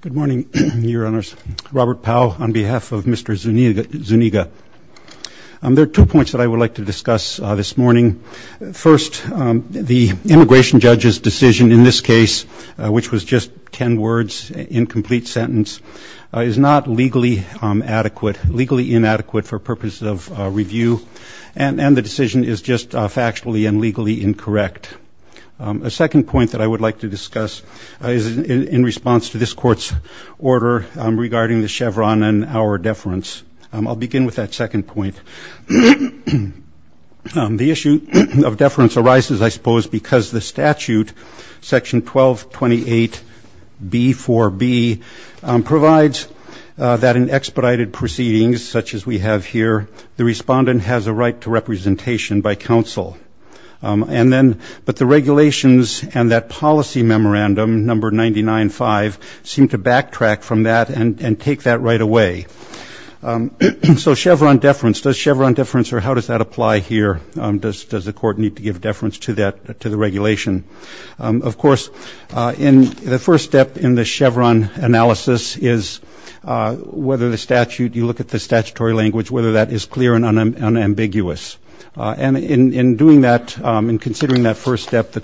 Good morning, your honors. Robert Powell on behalf of Mr. Zuniga. There are two points that I would like to discuss this morning. First, the immigration judge's decision in this case, which was just 10 words, incomplete sentence, is not legally adequate, legally inadequate for purposes of review, and the decision is just factually and legally incorrect. A second point that I would like to discuss is in response to this court's order regarding the Chevron and our deference. I'll begin with that second point. The issue of deference arises, I suppose, because the statute, section 1228b4b, provides that in expedited proceedings, such as we have here, the respondent has a right to representation by counsel. And seem to backtrack from that and take that right away. So Chevron deference, does Chevron deference, or how does that apply here? Does the court need to give deference to that, to the regulation? Of course, in the first step in the Chevron analysis is whether the statute, you look at the statutory language, whether that is clear and unambiguous. And in doing that, in considering that first step, the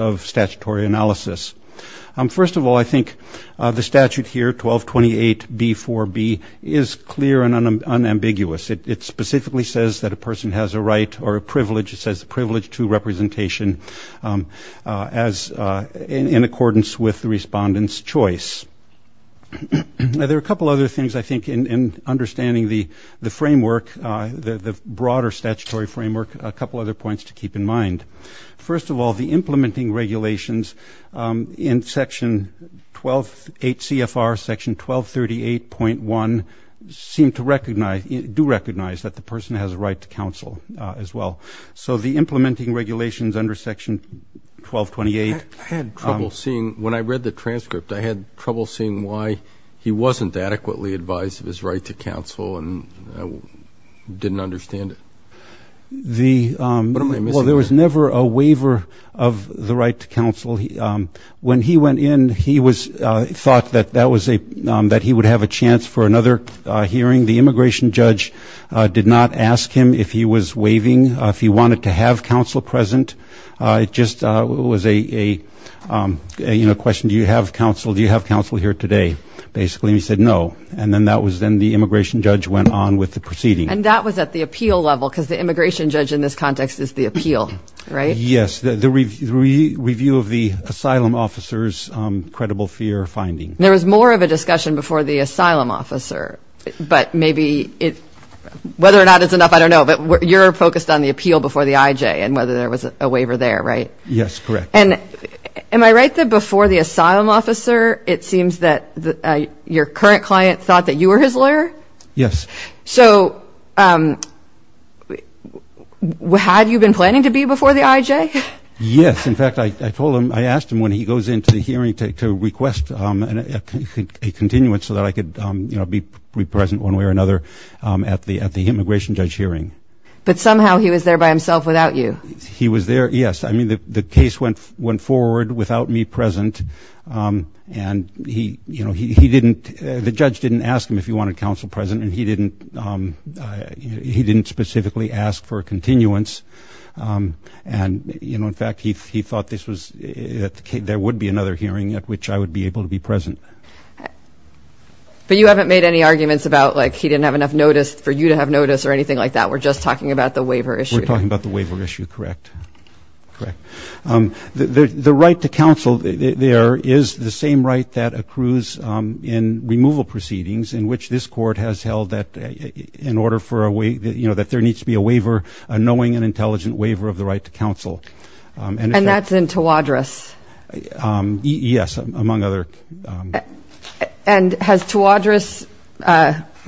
of statutory analysis. First of all, I think the statute here, 1228b4b, is clear and unambiguous. It specifically says that a person has a right or a privilege, it says the privilege to representation, in accordance with the respondent's choice. There are a couple other things, I think, in understanding the framework, the broader statutory framework, a couple other points to keep in mind. First of all, the implementing regulations in Section 128 CFR, Section 1238.1, seem to recognize, do recognize, that the person has a right to counsel as well. So the implementing regulations under Section 1228... I had trouble seeing, when I read the transcript, I had trouble seeing why he wasn't adequately advised of his right to counsel, and I didn't understand it. Well, there was never a waiver of the right to counsel. When he went in, he was thought that that was a, that he would have a chance for another hearing. The immigration judge did not ask him if he was waiving, if he wanted to have counsel present. It just was a, you know, question, do you have counsel, do you have counsel here today, basically, and he said no. And then that was, then the immigration judge went on with the proceeding. And that was at the appeal level, because the immigration judge in this context is the appeal, right? Yes, the review of the asylum officer's credible fear finding. There was more of a discussion before the asylum officer, but maybe it, whether or not it's enough, I don't know, but you're focused on the appeal before the IJ, and whether there was a waiver there, right? Yes, correct. And am I right that before the asylum officer, it seems that your current client thought that you were his lawyer? Yes. So, had you been planning to be before the IJ? Yes, in fact, I told him, I asked him when he goes into the hearing to request a continuance so that I could, you know, be present one way or another at the immigration judge hearing. But somehow he was there by himself without you. He was there, yes. I mean, the case went forward without me present. And he, you know, he didn't, the judge didn't ask him if he wanted counsel present, and he didn't, he didn't specifically ask for a continuance. And, you know, in fact, he thought this was, that there would be another hearing at which I would be able to be present. But you haven't made any arguments about, like, he didn't have enough notice for you to have notice or anything like that. We're just talking about the waiver issue. We're talking about the waiver issue, correct. Correct. The right to counsel there is the same right that accrues in removal proceedings in which this court has held that in order for a way, you know, that there needs to be a waiver, a knowing and intelligent waiver of the right to counsel. And that's in Tawadros? Yes, among other. And has Tawadros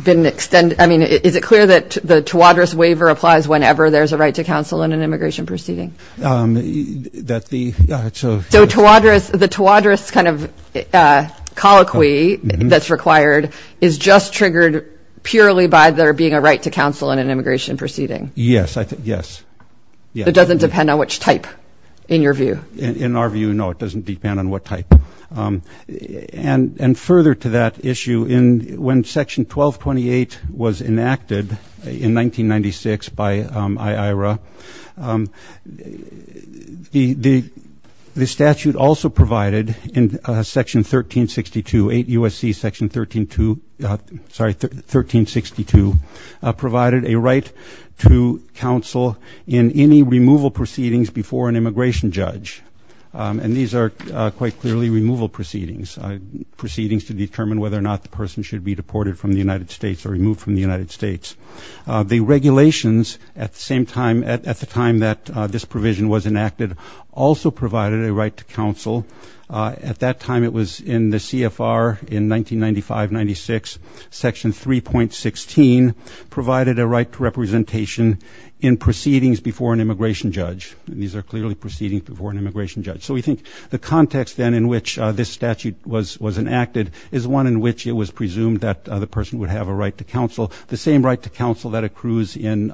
been extended, I mean, is it clear that the Tawadros waiver applies whenever there's a right to counsel in an immigration proceeding? That the, so. So Tawadros, the Tawadros kind of colloquy that's required is just triggered purely by there being a right to counsel in an immigration proceeding? Yes, I think, yes. It doesn't depend on which type, in your view? In our view, no, it doesn't depend on what type. And further to that issue, when Section 1228 was enacted in 1996 by IAERA, the statute also provided in Section 1362, 8 U.S.C. Section 132, sorry, 1362 provided a right to counsel in any removal proceedings before an immigration judge. And these are quite clearly removal proceedings, proceedings to determine whether or not the person should be deported from the United States or removed from the United States. The regulations at the same time, at the time that this provision was enacted, also provided a right to counsel. At that time, it was in the CFR in 1995-96, Section 3.16 provided a right to representation in proceedings before an immigration judge. And these are clearly proceedings before an immigration judge. So we think the context then in which this statute was enacted is one in which it was presumed that the person would have a right to counsel, the same right to counsel that accrues in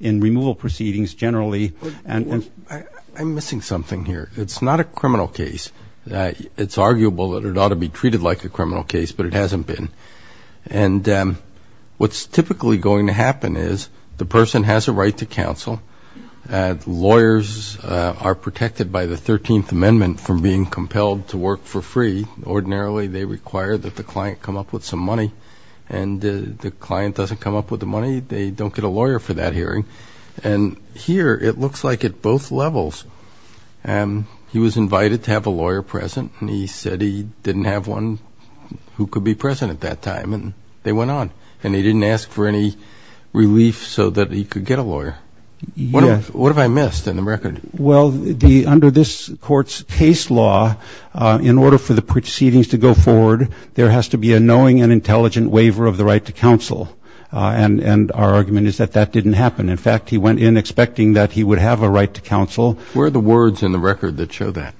removal proceedings generally. And I'm missing something here. It's not a criminal case. It's arguable that it ought to be treated like a criminal case, but it hasn't been. And what's typically going to happen is the person has a right to counsel. Lawyers are protected by the 13th Amendment from being compelled to work for free. Ordinarily, they require that the client come up with some money. And the client doesn't come up with the money, they don't get a lawyer for that hearing. And here, it looks like at both levels, he was invited to have a lawyer present, and he said he didn't have one who could be present at that time, and they went on. And he didn't ask for any relief so that he could get a lawyer. What have I missed in the record? Well, under this court's case law, in order for the proceedings to go forward, there has to be a knowing and intelligent waiver of the right to counsel. And our argument is that that didn't happen. In fact, he went in expecting that he would have a right to counsel. Where are the words in the record that show that?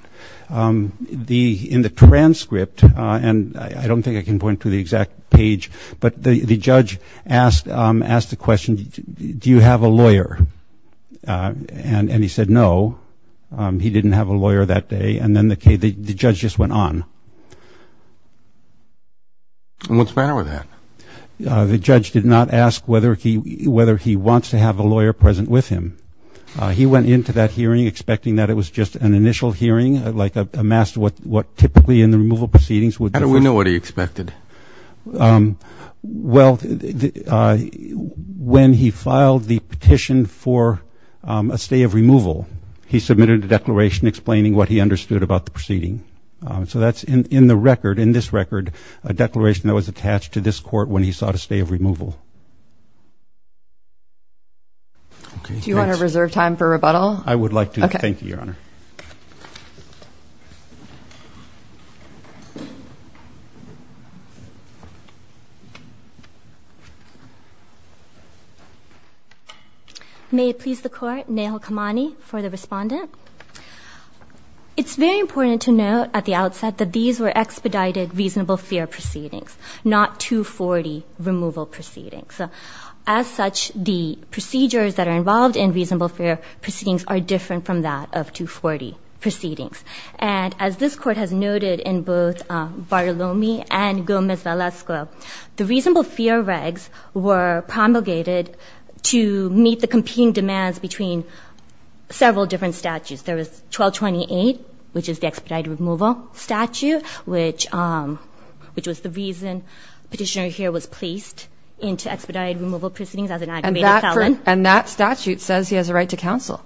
In the transcript, and I don't think I can point to the exact page. But the judge asked the question, do you have a lawyer? And he said no, he didn't have a lawyer that day. And then the judge just went on. And what's the matter with that? The judge did not ask whether he wants to have a lawyer present with him. He went into that hearing expecting that it was just an initial hearing, like a master what typically in the removal proceedings would be. How do we know what he expected? Well, when he filed the petition for a stay of removal, he submitted a declaration explaining what he understood about the proceeding. So that's in the record, in this record, a declaration that was attached to this court when he sought a stay of removal. Do you want to reserve time for rebuttal? Okay. Thank you, Your Honor. May it please the court, Nehal Kamani for the respondent. It's very important to note at the outset that these were expedited reasonable fear proceedings, not 240 removal proceedings. As such, the procedures that are involved in reasonable fear proceedings are different from that of 240 proceedings. And as this court has noted in both Bartolome and Gomez-Valesco, the reasonable fear regs were promulgated to meet the competing demands between several different statutes. There was 1228, which is the expedited removal statute, which was the reason petitioner here was placed into expedited removal proceedings as an aggravated felon. And that statute says he has a right to counsel.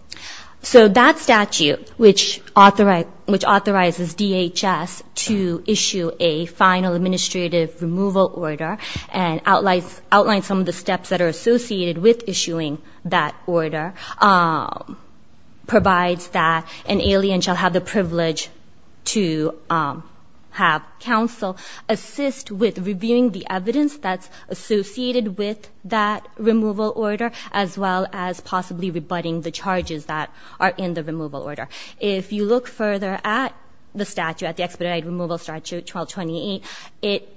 So that statute, which authorizes DHS to issue a final administrative removal order and outlines some of the steps that are associated with issuing that order, provides that an alien shall have the privilege to have counsel assist with reviewing the evidence that's associated with that removal order, as well as possibly rebutting the charges that are in the removal order. If you look further at the statute, at the expedited removal statute 1228, it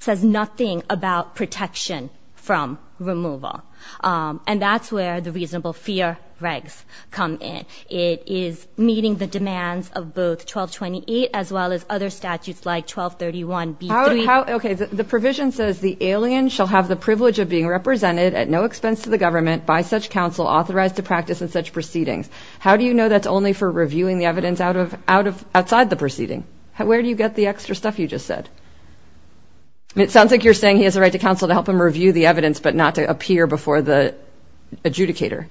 says nothing about protection from removal. And that's where the reasonable fear regs come in. It is meeting the demands of both 1228 as well as other statutes like 1231B3- The provision says the alien shall have the privilege of being represented at no expense to the government by such counsel authorized to practice in such proceedings. How do you know that's only for reviewing the evidence outside the proceeding? Where do you get the extra stuff you just said? It sounds like you're saying he has a right to counsel to help him review the evidence but not to appear before the adjudicator.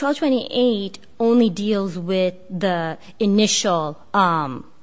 1228 only deals with the initial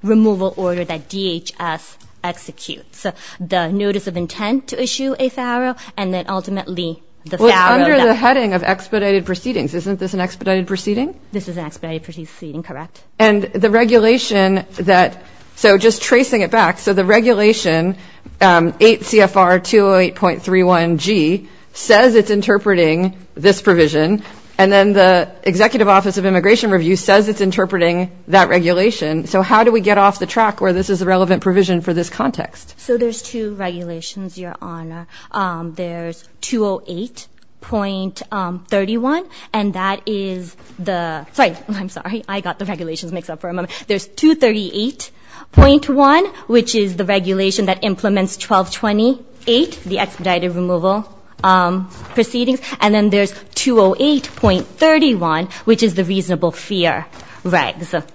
removal order that DHS executes. So the notice of intent to issue a FARO and then ultimately the FARO that- Well, it's under the heading of expedited proceedings. Isn't this an expedited proceeding? This is an expedited proceeding, correct. And the regulation that- so just tracing it back, so the regulation 8 CFR 208.31G says it's interpreting this provision and then the Executive Office of Immigration Review says it's interpreting that regulation. So how do we get off the track where this is a relevant provision for this context? So there's two regulations, Your Honor. There's 208.31 and that is the- Sorry, I'm sorry. I got the regulations mixed up for a moment. There's 238.1, which is the regulation that implements 1228, the expedited removal proceedings. And then there's 208.31, which is the reasonable fear regs.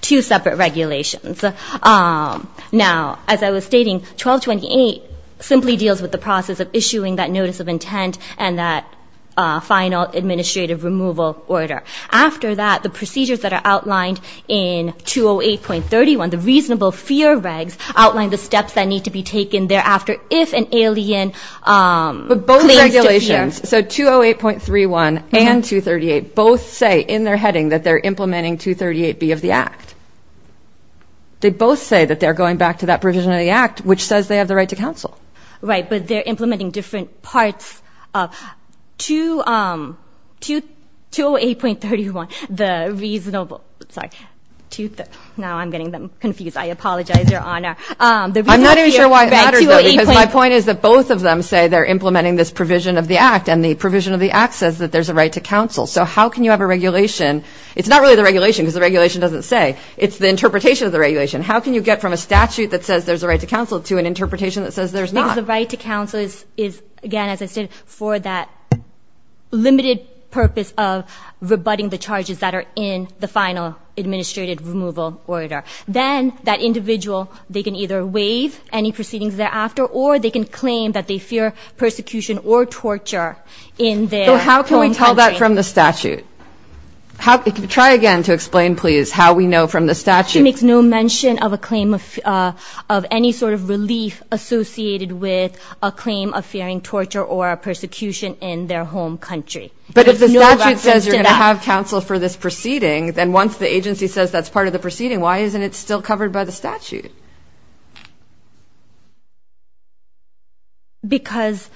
Two separate regulations. Now, as I was stating, 1228 simply deals with the process of issuing that notice of intent and that final administrative removal order. After that, the procedures that are outlined in 208.31, the reasonable fear regs outline the steps that need to be taken thereafter if an alien claims to fear. But both regulations, so 208.31 and 238, both say in their heading that they're implementing 238B of the Act. They both say that they're going back to that provision of the Act, which says they have the right to counsel. Right, but they're implementing different parts of- 208.31, the reasonable- Sorry. Now I'm getting them confused. I apologize, Your Honor. I'm not even sure why it matters, though, because my point is that both of them say they're implementing this provision of the Act, and the provision of the Act says that there's a right to counsel. So how can you have a regulation? It's not really the regulation, because the regulation doesn't say. It's the interpretation of the regulation. How can you get from a statute that says there's a right to counsel to an interpretation that says there's not? Because the right to counsel is, again, as I said, for that limited purpose of rebutting the charges that are in the final administrative removal order. Then that individual, they can either waive any proceedings thereafter or they can claim that they fear persecution or torture in their home country. So how can we tell that from the statute? Try again to explain, please, how we know from the statute. The statute makes no mention of a claim of any sort of relief associated with a claim of fearing torture or persecution in their home country. But if the statute says you're going to have counsel for this proceeding, then once the agency says that's part of the proceeding, Because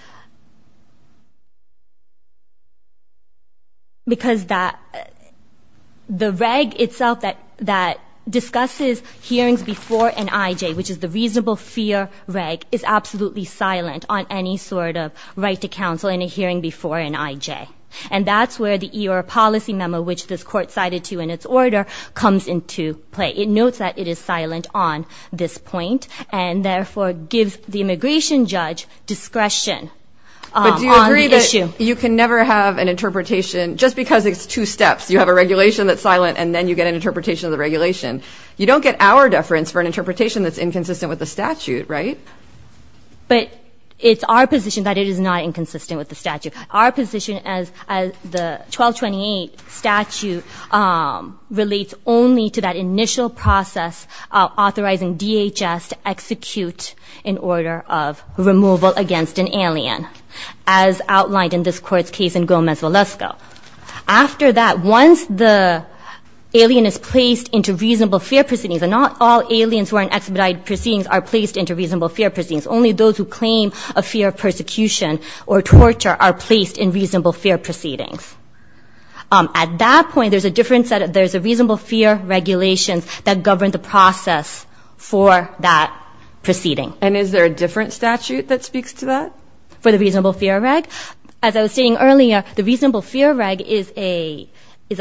the reg itself that discusses hearings before an IJ, which is the reasonable fear reg, is absolutely silent on any sort of right to counsel in a hearing before an IJ. And that's where the EOR policy memo, which this Court cited to in its order, comes into play. It notes that it is silent on this point and therefore gives the immigration judge discretion on the issue. But do you agree that you can never have an interpretation, just because it's two steps. You have a regulation that's silent and then you get an interpretation of the regulation. You don't get our deference for an interpretation that's inconsistent with the statute, right? But it's our position that it is not inconsistent with the statute. Our position as the 1228 statute relates only to that initial process of authorizing DHS to execute in order of removal against an alien, as outlined in this Court's case in Gomez-Valesco. After that, once the alien is placed into reasonable fear proceedings, and not all aliens who are in expedited proceedings are placed into reasonable fear proceedings. Only those who claim a fear of persecution or torture are placed in reasonable fear proceedings. At that point, there's a reasonable fear regulation that governs the process for that proceeding. And is there a different statute that speaks to that? For the reasonable fear reg? As I was stating earlier, the reasonable fear reg is a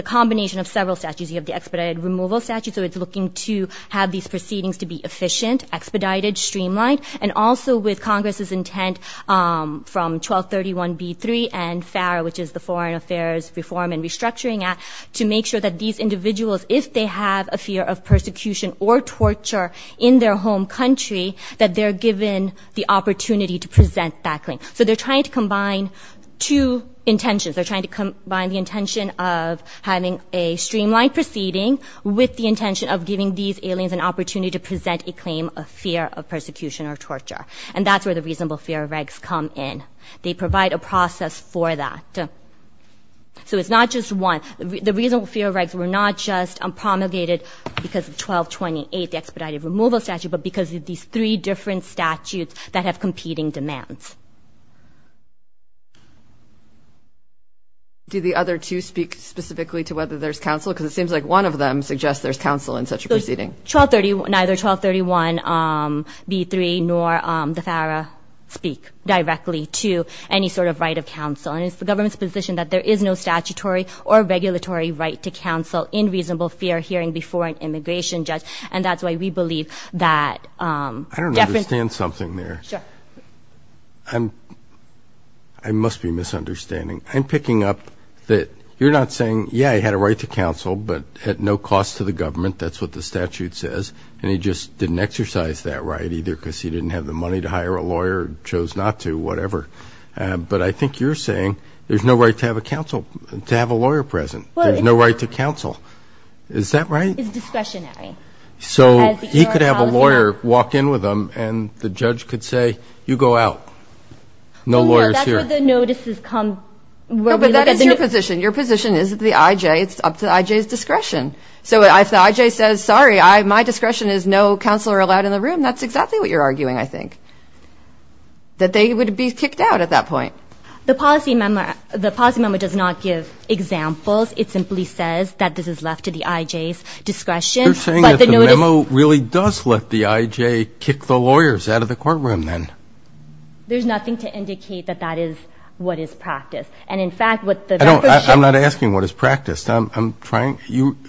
combination of several statutes. You have the expedited removal statute, so it's looking to have these proceedings to be efficient, expedited, streamlined. And also with Congress's intent from 1231b-3 and FAR, which is the Foreign Affairs Reform and Restructuring Act, to make sure that these individuals, if they have a fear of persecution or torture in their home country, that they're given the opportunity to present that claim. So they're trying to combine two intentions. They're trying to combine the intention of having a streamlined proceeding with the intention of giving these aliens an opportunity to present a claim of fear of persecution or torture. And that's where the reasonable fear regs come in. They provide a process for that. So it's not just one. The reasonable fear regs were not just promulgated because of 1228, the expedited removal statute, but because of these three different statutes that have competing demands. Do the other two speak specifically to whether there's counsel? Because it seems like one of them suggests there's counsel in such a proceeding. Neither 1231b-3 nor the FAR speak directly to any sort of right of counsel. And it's the government's position that there is no statutory or regulatory right to counsel in reasonable fear hearing before an immigration judge. And that's why we believe that deference. I don't understand something there. Sure. I must be misunderstanding. I'm picking up that you're not saying, yeah, I had a right to counsel, but at no cost to the government. That's what the statute says. And he just didn't exercise that right either because he didn't have the money to hire a lawyer, chose not to, whatever. But I think you're saying there's no right to have a lawyer present. There's no right to counsel. Is that right? It's discretionary. So he could have a lawyer walk in with him, and the judge could say, you go out. No lawyers here. That's where the notices come. No, but that is your position. Your position is that the IJ, it's up to the IJ's discretion. So if the IJ says, sorry, my discretion is no counselor allowed in the room, that's exactly what you're arguing, I think, that they would be kicked out at that point. The policy memo does not give examples. It simply says that this is left to the IJ's discretion. You're saying that the memo really does let the IJ kick the lawyers out of the courtroom then. There's nothing to indicate that that is what is practiced. And, in fact, what the – I'm not asking what is practiced. I'm trying – you –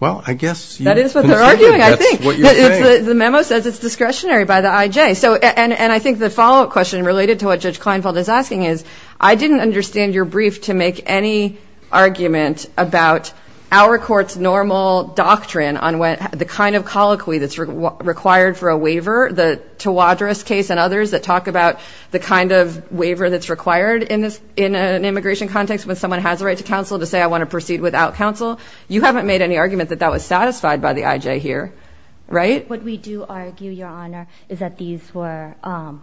well, I guess. That is what they're arguing, I think. That's what you're saying. The memo says it's discretionary by the IJ. And I think the follow-up question related to what Judge Kleinfeld is asking is, I didn't understand your brief to make any argument about our court's normal doctrine on the kind of colloquy that's required for a waiver, the Tawadros case and others that talk about the kind of waiver that's required in an immigration context when someone has a right to counsel to say I want to proceed without counsel. You haven't made any argument that that was satisfied by the IJ here. Right? What we do argue, Your Honor, is that these were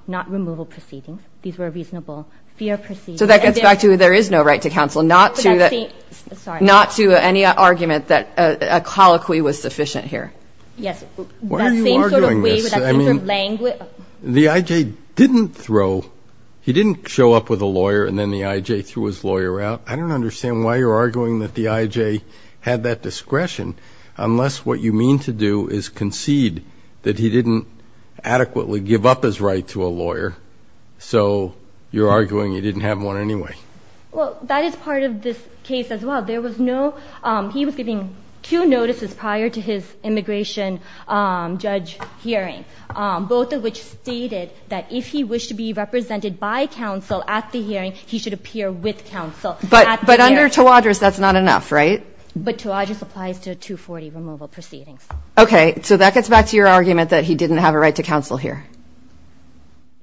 not removal proceedings. These were reasonable fear proceedings. So that gets back to there is no right to counsel, not to the – Sorry. Not to any argument that a colloquy was sufficient here. Yes. Why are you arguing this? I mean, the IJ didn't throw – he didn't show up with a lawyer and then the IJ threw his lawyer out. I don't understand why you're arguing that the IJ had that discretion unless what you mean to do is concede that he didn't adequately give up his right to a lawyer. So you're arguing he didn't have one anyway. Well, that is part of this case as well. There was no – he was giving two notices prior to his immigration judge hearing, both of which stated that if he wished to be represented by counsel at the hearing, he should appear with counsel at the hearing. But under Tawadros, that's not enough, right? But Tawadros applies to 240 removal proceedings. Okay. So that gets back to your argument that he didn't have a right to counsel here.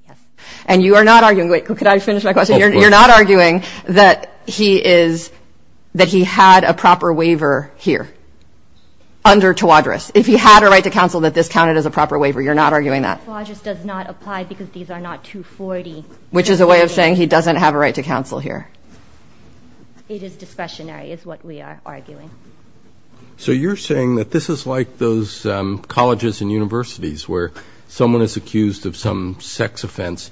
Yes. And you are not arguing – wait. Could I finish my question? You're not arguing that he is – that he had a proper waiver here under Tawadros. If he had a right to counsel, that this counted as a proper waiver. You're not arguing that. Tawadros does not apply because these are not 240. Which is a way of saying he doesn't have a right to counsel here. It is discretionary is what we are arguing. So you're saying that this is like those colleges and universities where someone is accused of some sex offense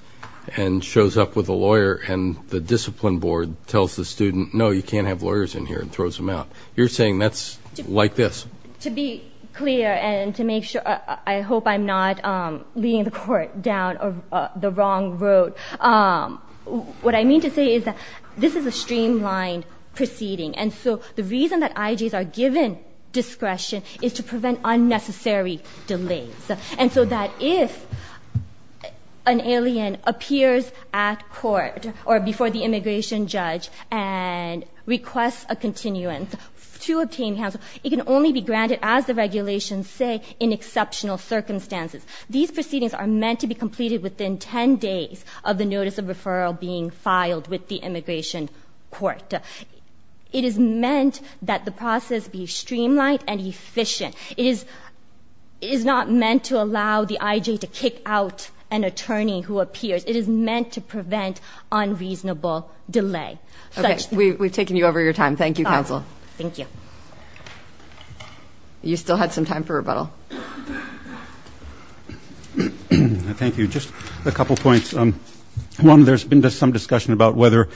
and shows up with a lawyer and the discipline board tells the student, no, you can't have lawyers in here, and throws them out. You're saying that's like this. To be clear and to make sure – I hope I'm not leading the Court down the wrong road. What I mean to say is that this is a streamlined proceeding. And so the reason that IGs are given discretion is to prevent unnecessary delays. And so that if an alien appears at court or before the immigration judge and requests a continuance to obtain counsel, it can only be granted, as the regulations say, in exceptional circumstances. These proceedings are meant to be completed within 10 days of the notice of referral being filed with the immigration court. It is meant that the process be streamlined and efficient. It is not meant to allow the IG to kick out an attorney who appears. It is meant to prevent unreasonable delay. We've taken you over your time. Thank you, counsel. Thank you. You still had some time for rebuttal. Thank you. Just a couple points. One, there's been some discussion about whether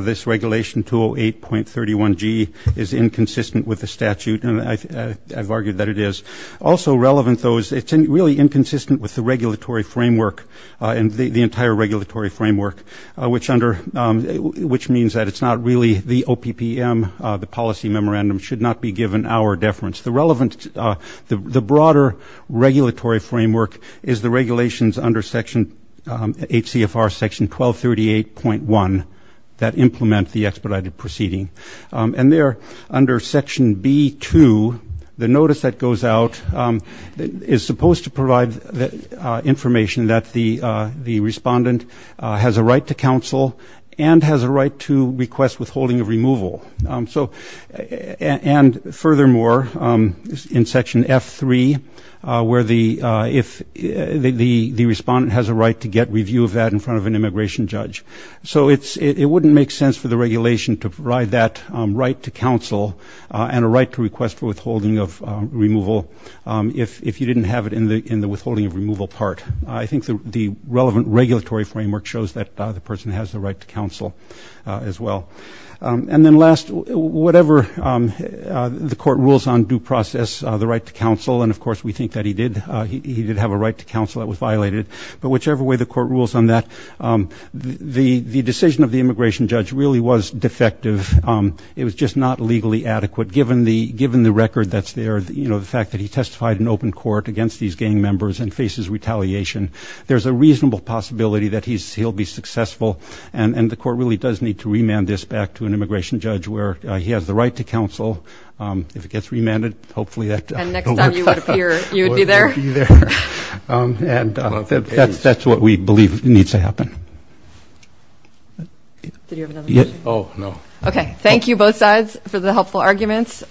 this regulation, 208.31G, is inconsistent with the statute, and I've argued that it is. Also relevant, though, is it's really inconsistent with the regulatory framework and the entire regulatory framework, which means that it's not really the OPPM, the policy memorandum should not be given our deference. The broader regulatory framework is the regulations under HCFR Section 1238.1 that implement the expedited proceeding. And there, under Section B.2, the notice that goes out is supposed to provide information that the respondent has a right to counsel and has a right to request withholding of removal. And furthermore, in Section F.3, where the respondent has a right to get review of that in front of an immigration judge. So it wouldn't make sense for the regulation to provide that right to counsel and a right to request for withholding of removal if you didn't have it in the withholding of removal part. I think the relevant regulatory framework shows that the person has the right to counsel as well. And then last, whatever the court rules on due process, the right to counsel, and of course we think that he did have a right to counsel that was violated, but whichever way the court rules on that, the decision of the immigration judge really was defective. It was just not legally adequate. Given the record that's there, you know, the fact that he testified in open court against these gang members and faces retaliation, there's a reasonable possibility that he'll be successful. And the court really does need to remand this back to an immigration judge where he has the right to counsel. If it gets remanded, hopefully that will work out. And next time you would appear, you would be there. And that's what we believe needs to happen. Did you have another question? Oh, no. Okay, thank you both sides for the helpful arguments.